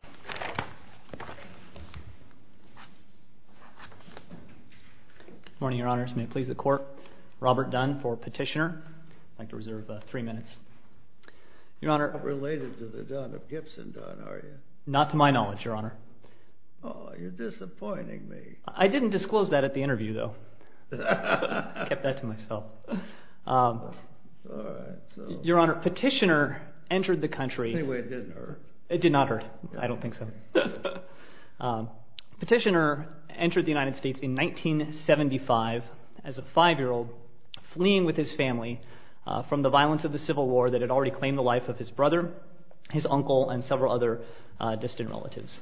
Good morning, Your Honor. May it please the Court, Robert Dunn for petitioner. I'd like to reserve three minutes. Related to the Dunn of Gibson, Dunn, are you? Not to my knowledge, Your Honor. Oh, you're disappointing me. I didn't disclose that at the interview, though. Kept that to myself. Your Honor, petitioner entered the country. Anyway, it didn't hurt. It did not hurt. I don't think so. Petitioner entered the United States in 1975 as a five-year old, fleeing with his family from the violence of the Civil War that had already claimed the life of his brother, his uncle, and several other distant relatives.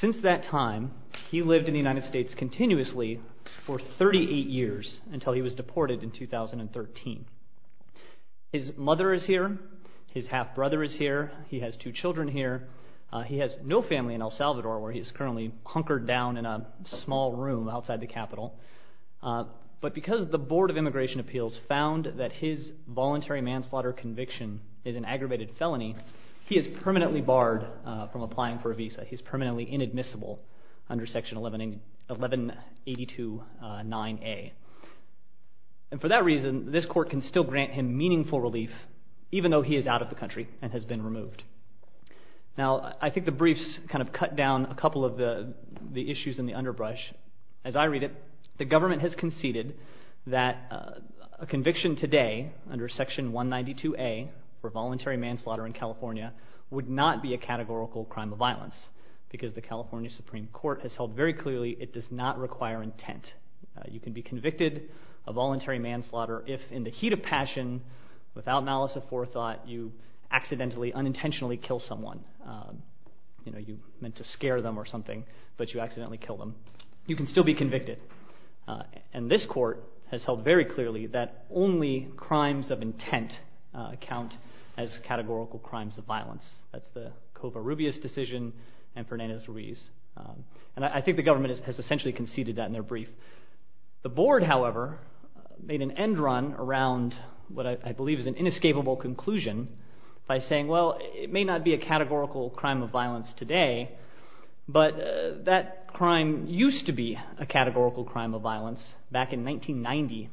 Since that time, he lived in the United States continuously for 38 years until he was deported in 2013. His mother is here. His half-brother is here. He has two children here. He has no family in El Salvador, where he is currently hunkered down in a small room outside the Capitol. But because the Board of Immigration Appeals found that his voluntary manslaughter conviction is an aggravated felony, he is permanently barred from applying for a visa. He's permanently can still grant him meaningful relief, even though he is out of the country and has been removed. Now, I think the briefs kind of cut down a couple of the issues in the underbrush. As I read it, the government has conceded that a conviction today under Section 192A for voluntary manslaughter in California would not be a categorical crime of violence because the California Supreme Court has held very clearly it does not require intent. You can be convicted a passion without malice of forethought. You accidentally, unintentionally kill someone. You know, you meant to scare them or something, but you accidentally kill them. You can still be convicted. And this court has held very clearly that only crimes of intent count as categorical crimes of violence. That's the Covarrubias decision and Fernandez-Ruiz. And I think the government has essentially conceded that in their brief. The Board, however, made an end around what I believe is an inescapable conclusion by saying, well, it may not be a categorical crime of violence today, but that crime used to be a categorical crime of violence back in 1990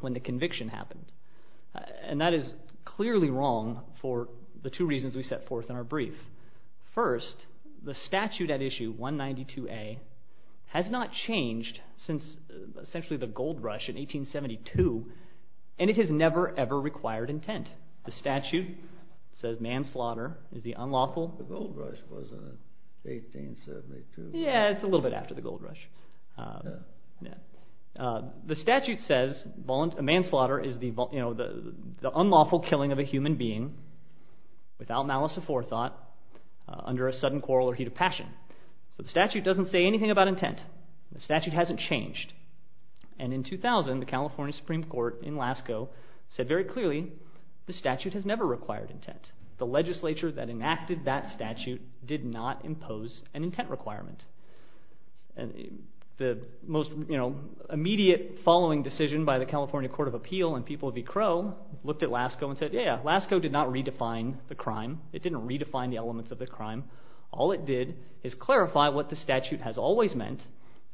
when the conviction happened. And that is clearly wrong for the two reasons we set forth in our brief. First, the statute at issue 192A has not changed since essentially the gold rush in 1872, and it has never, ever required intent. The statute says manslaughter is the unlawful. The gold rush was in 1872. Yeah, it's a little bit after the gold rush. The statute says manslaughter is the unlawful killing of a human being without malice of forethought under a sudden quarrel or heat of passion. So the statute doesn't say And in 2000, the California Supreme Court in Lascaux said very clearly the statute has never required intent. The legislature that enacted that statute did not impose an intent requirement. The most immediate following decision by the California Court of Appeal and people of E. Crowe looked at Lascaux and said, yeah, Lascaux did not redefine the crime. It didn't redefine the elements of the crime. All it did is clarify what the statute has always meant,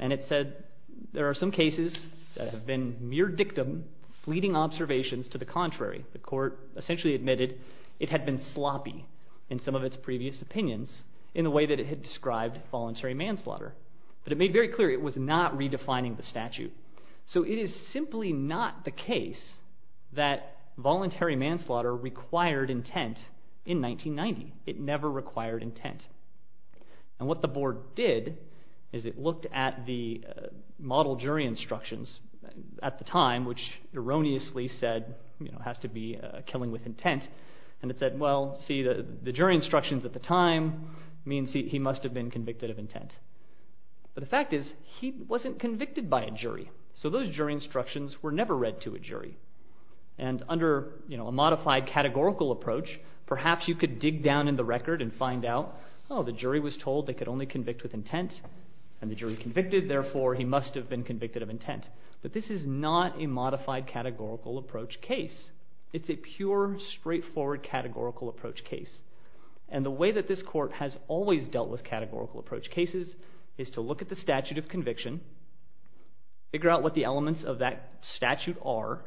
and it said there are some cases that have been mere dictum, fleeting observations to the contrary. The court essentially admitted it had been sloppy in some of its previous opinions in the way that it had described voluntary manslaughter. But it made very clear it was not redefining the statute. So it is simply not the case that voluntary manslaughter required intent in 1990. It never required intent. And what the board did is it looked at the model jury instructions at the time, which erroneously said has to be killing with intent, and it said, well, see, the jury instructions at the time means he must have been convicted of intent. But the fact is he wasn't convicted by a jury, so those jury instructions were never read to a jury. And under a modified categorical approach, perhaps you could dig down in the record and find out, oh, the jury was told they could only convict with intent, and the jury convicted, therefore he must have been convicted of intent. But this is not a modified categorical approach case. It's a pure, straightforward categorical approach case. And the way that this court has always dealt with categorical approach cases is to look at the statute of R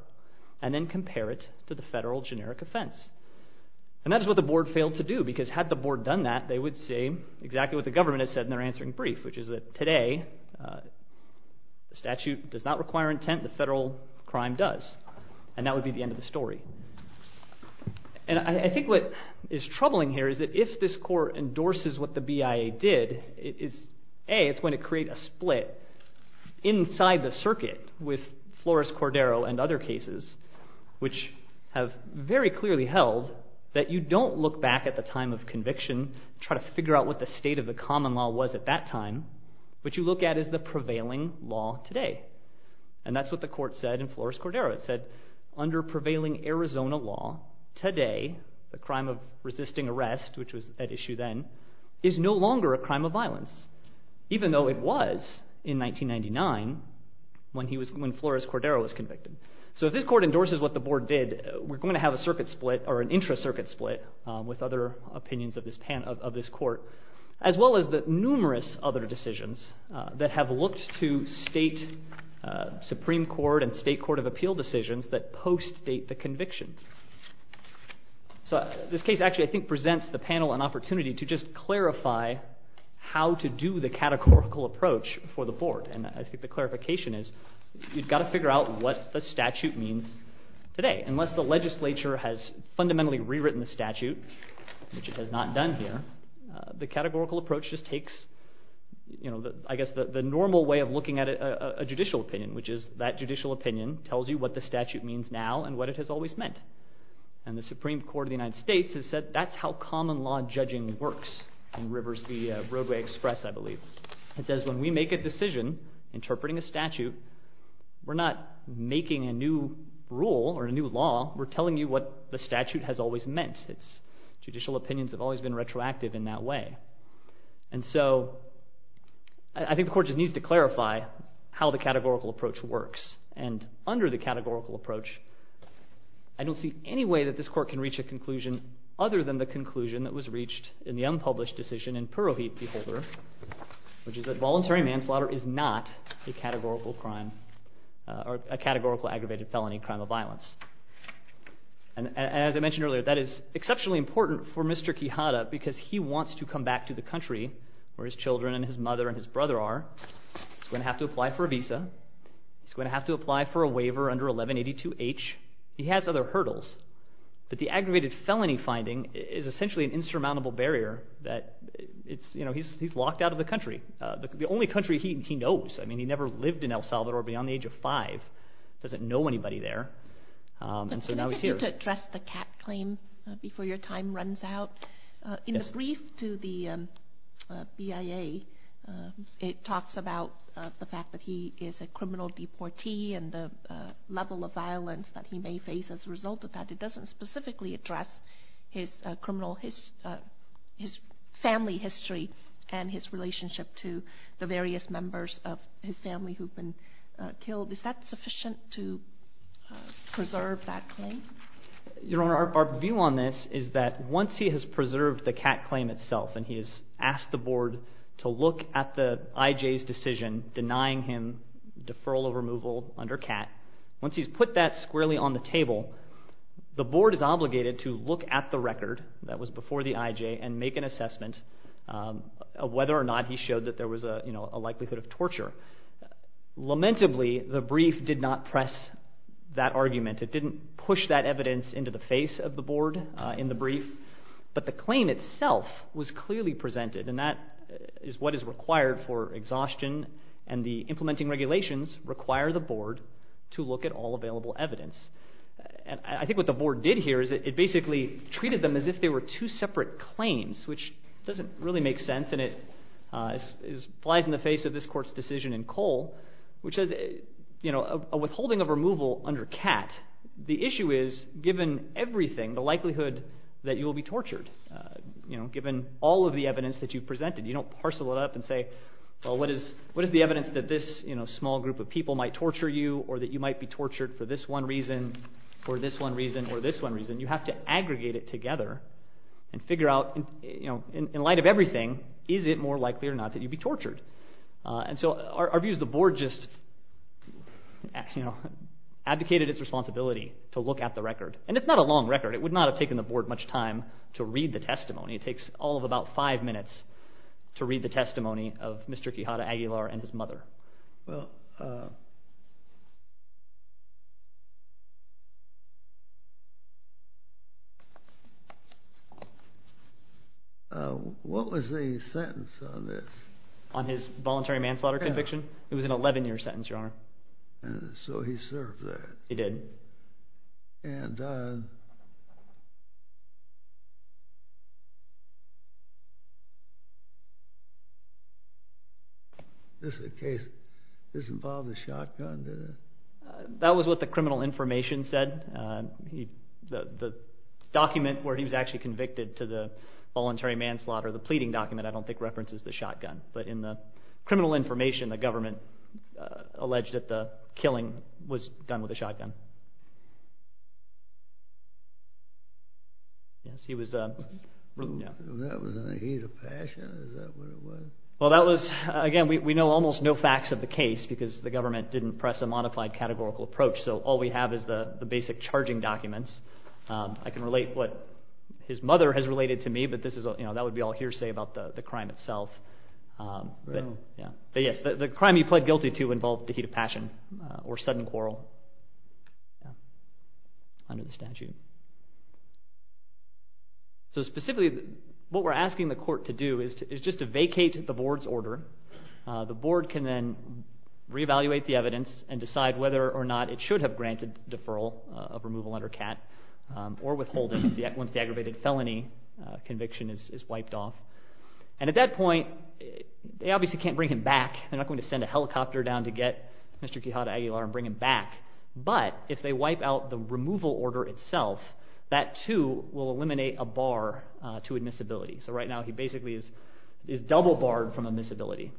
and then compare it to the federal generic offense. And that is what the board failed to do, because had the board done that, they would say exactly what the government has said in their answering brief, which is that today the statute does not require intent, the federal crime does. And that would be the end of the story. And I think what is troubling here is that if this court endorses what the BIA did, it is, A, it's going to create a split inside the circuit with Flores-Cordero and other cases, which have very clearly held that you don't look back at the time of conviction, try to figure out what the state of the common law was at that time, what you look at is the prevailing law today. And that's what the court said in Flores-Cordero. It said, under prevailing Arizona law, today the crime of resisting arrest, which was at issue then, is no longer a crime of violence, even though it was in 1999 when Flores-Cordero was convicted. So if this court endorses what the board did, we're going to have a circuit split, or an intra-circuit split, with other opinions of this court, as well as the numerous other decisions that have looked to state supreme court and state court of appeal decisions that post-date the conviction. So this case actually, I think, presents the panel an opportunity to just clarify how to do the categorical approach for the board. And I think the clarification is, you've got to figure out what the statute means today. Unless the legislature has fundamentally rewritten the statute, which it has not done here, the categorical approach just takes, I guess, the normal way of looking at a judicial opinion, which is that judicial opinion tells you what the statute means now and what it has always meant. And the Supreme Court of the United States has said that's how common law judging works in Rivers v. Roadway Express, I believe. It says when we make a decision interpreting a statute, we're not making a new rule or a new law, we're telling you what the statute has always meant. Judicial opinions have always been retroactive in that way. And so I think the court just needs to clarify how the categorical approach works. And under the categorical approach, I don't see any way that this court can reach a conclusion other than the conclusion that was reached in the categorical aggravated felony crime of violence. And as I mentioned earlier, that is exceptionally important for Mr. Quijada because he wants to come back to the country where his children and his mother and his brother are. He's going to have to apply for a visa. He's going to have to apply for a waiver under 1182H. He has other hurdles. But the aggravated felony finding is essentially an insurmountable barrier that he's locked out of the country. The only country he knows. I mean, he never lived in El Salvador beyond the age of five. Doesn't know anybody there. And so now he's here to address the cat claim before your time runs out. In the brief to the BIA, it talks about the fact that he is a criminal deportee and the level of violence that he may face as a result of that. It doesn't specifically address his criminal, his family history and his relationship to the various members of his family who've been killed. Is that sufficient to preserve that claim? Your Honor, our view on this is that once he has preserved the cat claim itself and he has asked the board to look at the IJ's decision denying him deferral of removal under cat, once he's put that squarely on the table, the board is obligated to look at the record that was before the IJ and make an assessment of whether or not he showed that there was a likelihood of torture. Lamentably, the brief did not press that argument. It didn't push that evidence into the face of the board in the brief, but the claim itself was clearly presented and that is what is required for exhaustion and the implementing regulations require the board to look at all available evidence. And I think what the board did here is it basically treated them as if they were two separate claims, which doesn't really make sense and it flies in the face of this court's decision in Cole, which is a withholding of removal under cat. The issue is, given everything, the likelihood that you will be tortured, given all of the evidence that you've presented, you don't parcel it up and say, well, what is the evidence that this small reason, you have to aggregate it together and figure out, in light of everything, is it more likely or not that you'd be tortured? And so our view is the board just advocated its responsibility to look at the record. And it's not a long record. It would not have taken the board much time to read the testimony. It takes all of about five minutes to read the testimony. What was the sentence on this? On his voluntary manslaughter conviction? It was an 11-year sentence, Your Honor. And so he served that. He did. And this is a case, this involved a shotgun, didn't it? That was what the criminal information said. The document where he was actually convicted to the voluntary manslaughter, the pleading document, I don't think references the shotgun. But in the criminal information, the government alleged that the killing was done with a shotgun. Yes, he was... That was in a heat of passion, is that what it was? Well, again, we know almost no facts of the case because the government didn't press a modified categorical approach, so all we have is the basic charging documents. I can relate what his mother has related to me, but that would be all hearsay about the crime itself. But yes, the crime he pled guilty to involved a heat of passion or sudden quarrel under the statute. So specifically, what we're asking the court to do is just to vacate the board's order. The board can then re-evaluate the evidence and decide whether or not it should have granted deferral of removal under CAT or withhold it once the aggravated felony conviction is wiped off. And at that point, they obviously can't bring him back. They're not going to send a helicopter down to get Mr. Quijada Aguilar and bring him back. But if they wipe out the removal order itself, that too will eliminate a bar to admissibility. So right now, he basically is double-barred from admissibility.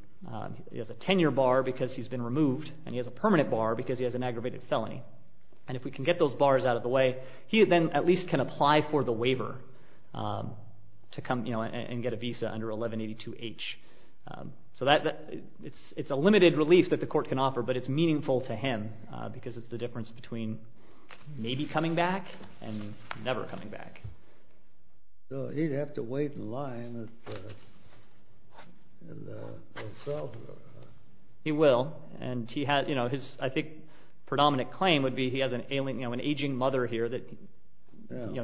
He has a 10-year bar because he's been removed, and he has a permanent bar because he has an aggravated felony. And if we can get those bars out of the way, he then at least can apply for the waiver and get a visa under 1182H. So it's a limited relief that the court can offer, but it's meaningful to him, because it's the difference between maybe coming back and never coming back. So he'd have to wait in line. He will. And his, I think, predominant claim would be he has an aging mother here that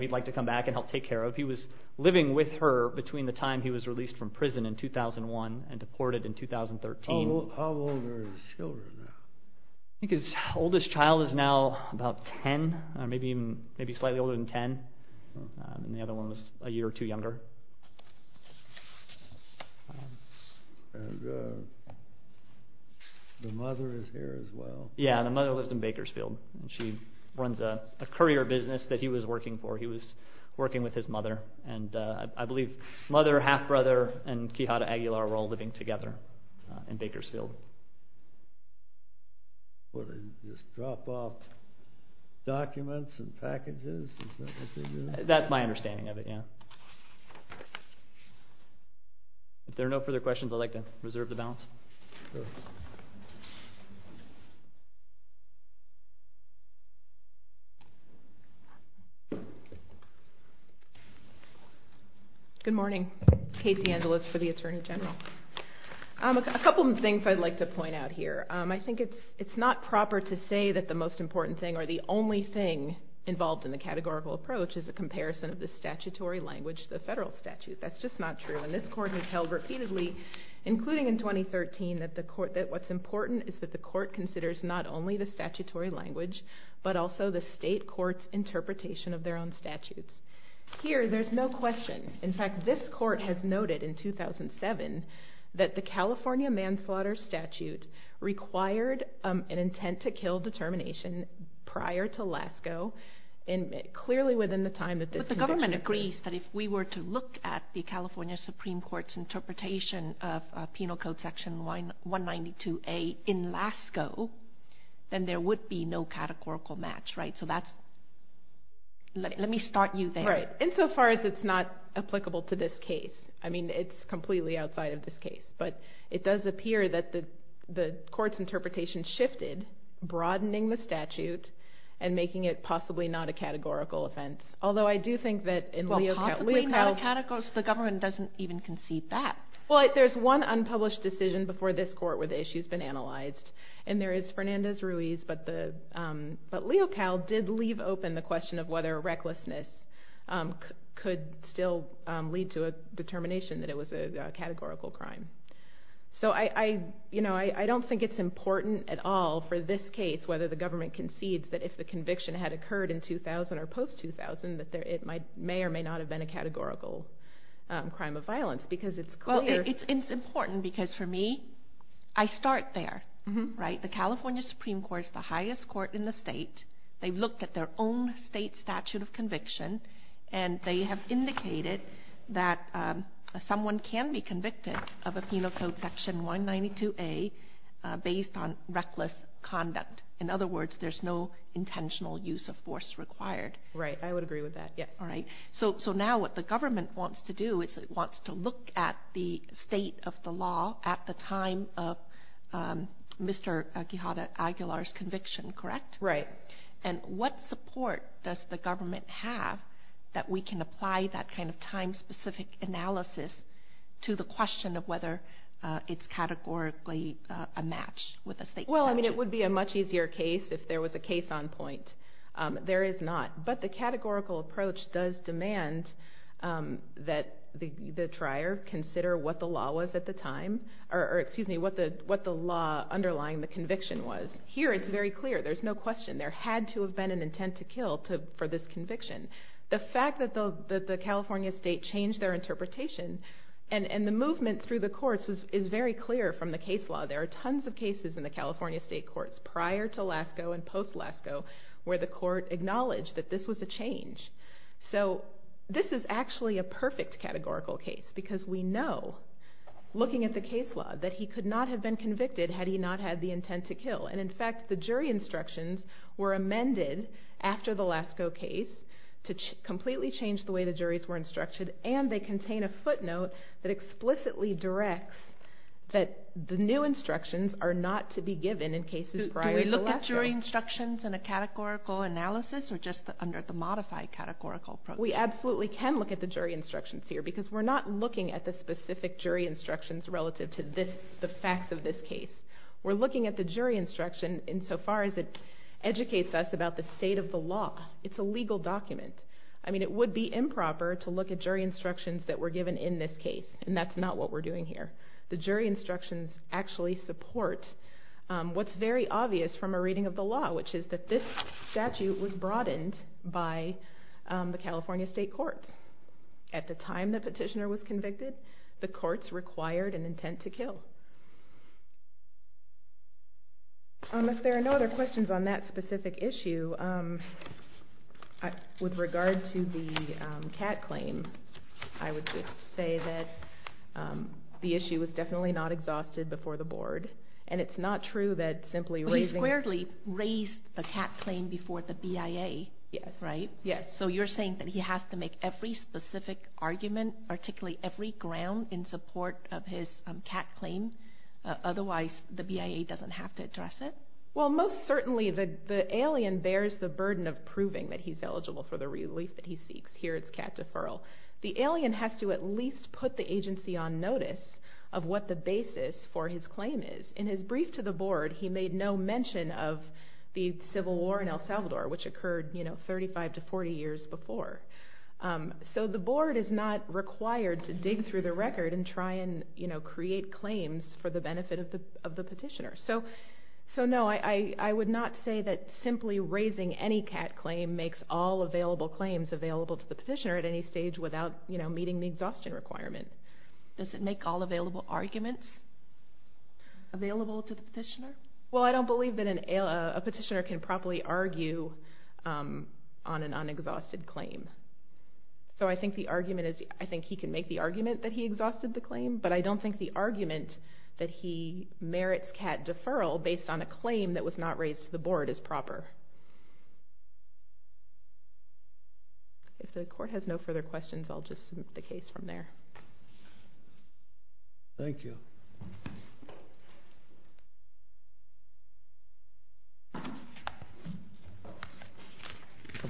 he'd like to come back and help take care of. He was living with her between the time he was released from prison in 2001 and deported in 2013. How old are his children now? I think his oldest child is now about 10, maybe slightly older than 10. And the other one was a year or two younger. And the mother is here as well. Yeah, the mother lives in Bakersfield, and she runs a courier business that he was working for. He was working with his mother. And I believe mother, half-brother, and Quijada Aguilar were all living together in Bakersfield. What, do they just drop off documents and packages? Is that what they do? That's my understanding of it, yeah. If there are no further questions, I'd like to reserve the balance. Good morning. Kate DeAngelis for the Attorney General. A couple of things I'd like to point out here. I think it's not proper to say that the most important thing or the only thing involved in the categorical approach is a comparison of the statutory language to the federal statute. That's just not true. And this court has held repeatedly, including in 2013, that what's important is that the court considers not only the statutory language, but also the state court's interpretation of their own statutes. Here, there's no question. In fact, this court has noted in 2007 that the California manslaughter statute required an intent-to-kill determination prior to Lascaux, clearly within the time that this conviction occurred. But the government agrees that if we were to look at the California Supreme Court's interpretation of Penal Code Section 192A in Lascaux, then there would be no categorical match, right? So that's, let me start you there. Right. Insofar as it's not applicable to this case. I mean, it's completely outside of this case. But it does appear that the court's interpretation shifted, broadening the statute and making it possibly not a categorical offense. Although I do think that in Leocal- Well, possibly not a categorical offense. The government doesn't even concede that. Well, there's one unpublished decision before this court where the issue's been analyzed. And there is Fernandez-Ruiz, but Leocal did leave open the question of whether recklessness could still lead to a determination that it was a categorical crime. So I don't think it's important at all for this case whether the government concedes that if the conviction had occurred in 2000 or post-2000 that it may or may not have been a categorical crime of violence because it's clear- Well, it's important because for me, I start there, right? The California Supreme Court is the highest court in the state. They've looked at their own state statute of conviction. And they have indicated that someone can be convicted of a Penal Code Section 192A based on reckless conduct. In other words, there's no intentional use of force required. Right. I would agree with that, yes. All right. So now what the government wants to do is it wants to look at the state of the law at the time of Mr. Quijada Aguilar's conviction, correct? Right. And what support does the government have that we can apply that kind of time-specific analysis to the question of whether it's categorically a match with a state statute? Well, I mean, it would be a much easier case if there was a case on point. There is not. But the categorical approach does demand that the trier consider what the law was at the time or, excuse me, what the law underlying the conviction was. Here it's very clear. There's no question. There had to have been an intent to kill for this conviction. The fact that the California state changed their interpretation and the movement through the courts is very clear from the case law. There are tons of cases in the California state courts prior to Lascaux and post-Lascaux where the court acknowledged that this was a change. So this is actually a perfect categorical case because we know, looking at the case law, that he could not have been convicted had he not had the intent to kill. And, in fact, the jury instructions were amended after the Lascaux case to completely change the way the juries were instructed, and they contain a footnote that explicitly directs that the new instructions are not to be given in cases prior to Lascaux. Do we look at jury instructions in a categorical analysis or just under the modified categorical approach? We absolutely can look at the jury instructions here because we're not looking at the specific jury instructions relative to the facts of this case. We're looking at the jury instruction insofar as it educates us about the state of the law. It's a legal document. I mean, it would be improper to look at jury instructions that were given in this case, and that's not what we're doing here. The jury instructions actually support what's very obvious from a reading of the law, which is that this statute was broadened by the California state courts. At the time the petitioner was convicted, the courts required an intent to kill. If there are no other questions on that specific issue, with regard to the Catt claim, I would just say that the issue was definitely not exhausted before the board, and it's not true that simply raising- He squarely raised the Catt claim before the BIA, right? Yes. So you're saying that he has to make every specific argument, particularly every ground in support of his Catt claim, otherwise the BIA doesn't have to address it? Well, most certainly the alien bears the burden of proving that he's eligible for the relief that he seeks. Here it's Catt deferral. The alien has to at least put the agency on notice of what the basis for his claim is. In his brief to the board, he made no mention of the Civil War in El Salvador, which occurred 35 to 40 years before. So the board is not required to dig through the record and try and create claims for the benefit of the petitioner. So no, I would not say that simply raising any Catt claim makes all available claims available to the petitioner at any stage without meeting the exhaustion requirement. Does it make all available arguments available to the petitioner? Well, I don't believe that a petitioner can properly argue on an unexhausted claim. So I think he can make the argument that he exhausted the claim, but I don't think the argument that he merits Catt deferral based on a claim that was not raised to the board is proper. If the court has no further questions, I'll just submit the case from there. Thank you.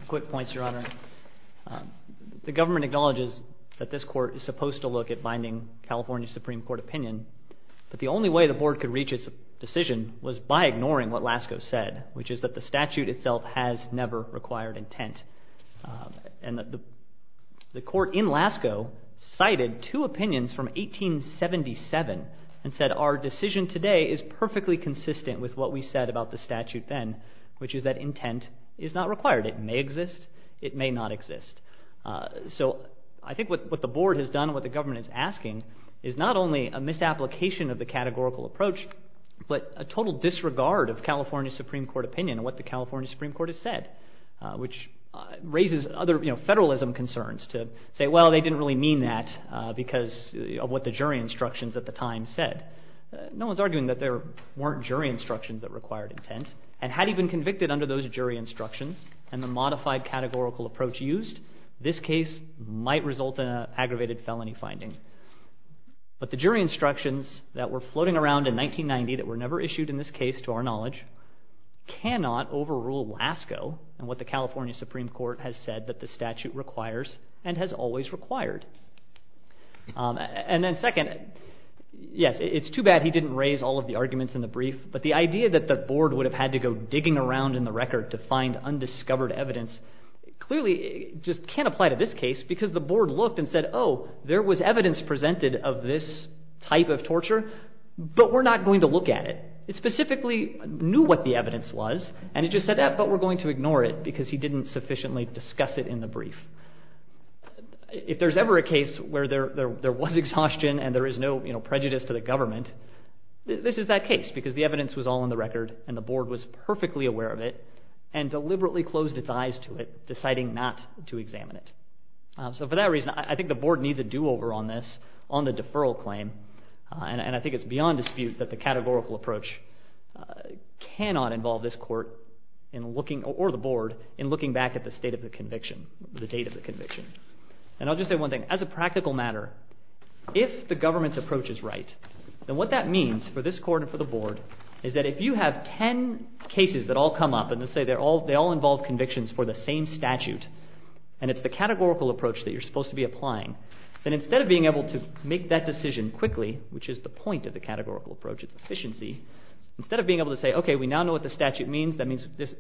Quick points, Your Honor. The government acknowledges that this court is supposed to look at binding California Supreme Court opinion, but the only way the board could reach its decision was by ignoring what Lasko said, which is that the statute itself has never required intent. And the court in Lasko cited two opinions from 1877 and said our decision today is perfectly consistent with what we said about the statute then, which is that intent is not required. It may exist, it may not exist. So I think what the board has done and what the government is asking is not only a misapplication of the categorical approach, but a total disregard of California Supreme Court opinion and what the California Supreme Court has said, which raises other federalism concerns to say, well, they didn't really mean that because of what the jury instructions at the time said. No one's arguing that there weren't jury instructions that required intent, and had he been convicted under those jury instructions and the modified categorical approach used, this case might result in an aggravated felony finding. But the jury instructions that were floating around in 1990 that were never issued in this case to our knowledge cannot overrule Lasko and what the California Supreme Court has said that the statute requires and has always required. And then second, yes, it's too bad he didn't raise all of the arguments in the brief, but the idea that the board would have had to go digging around in the record to find undiscovered evidence clearly just can't apply to this case because the board looked and said, oh, there was evidence presented of this type of torture, but we're not going to look at it. It specifically knew what the evidence was, and it just said, but we're going to ignore it because he didn't sufficiently discuss it in the brief. If there's ever a case where there was exhaustion and there is no prejudice to the government, this is that case because the evidence was all in the record and the board was perfectly aware of it and deliberately closed its eyes to it, deciding not to examine it. So for that reason, I think the board needs a do-over on this, on the deferral claim, and I think it's beyond dispute that the categorical approach cannot involve this court or the board in looking back at the state of the conviction, the date of the conviction. And I'll just say one thing. As a practical matter, if the government's approach is right, then what that means for this court and for the board is that if you have ten cases that all come up and say they all involve convictions for the same statute and it's the categorical approach that you're supposed to be applying, then instead of being able to make that decision quickly, which is the point of the categorical approach, its efficiency, instead of being able to say, okay, we now know what the statute means, that means this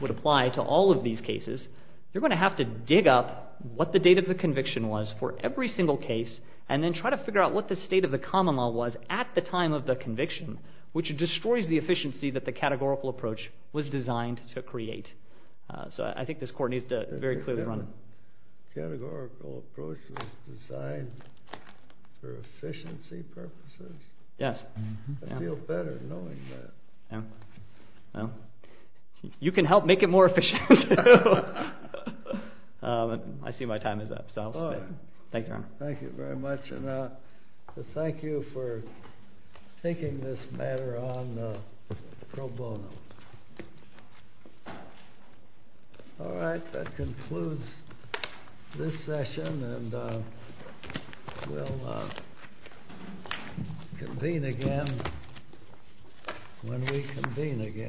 would apply to all of these cases, you're going to have to dig up what the date of the conviction was for every single case and then try to figure out what the state of the common law was at the time of the conviction, which destroys the efficiency that the categorical approach was designed to create. So I think this court needs to very clearly run. The categorical approach was designed for efficiency purposes? Yes. I feel better knowing that. Well, you can help make it more efficient. I see my time is up, so I'll submit. Thank you, Your Honor. Thank you very much. And thank you for taking this matter on pro bono. All right, that concludes this session, and we'll convene again when we convene again.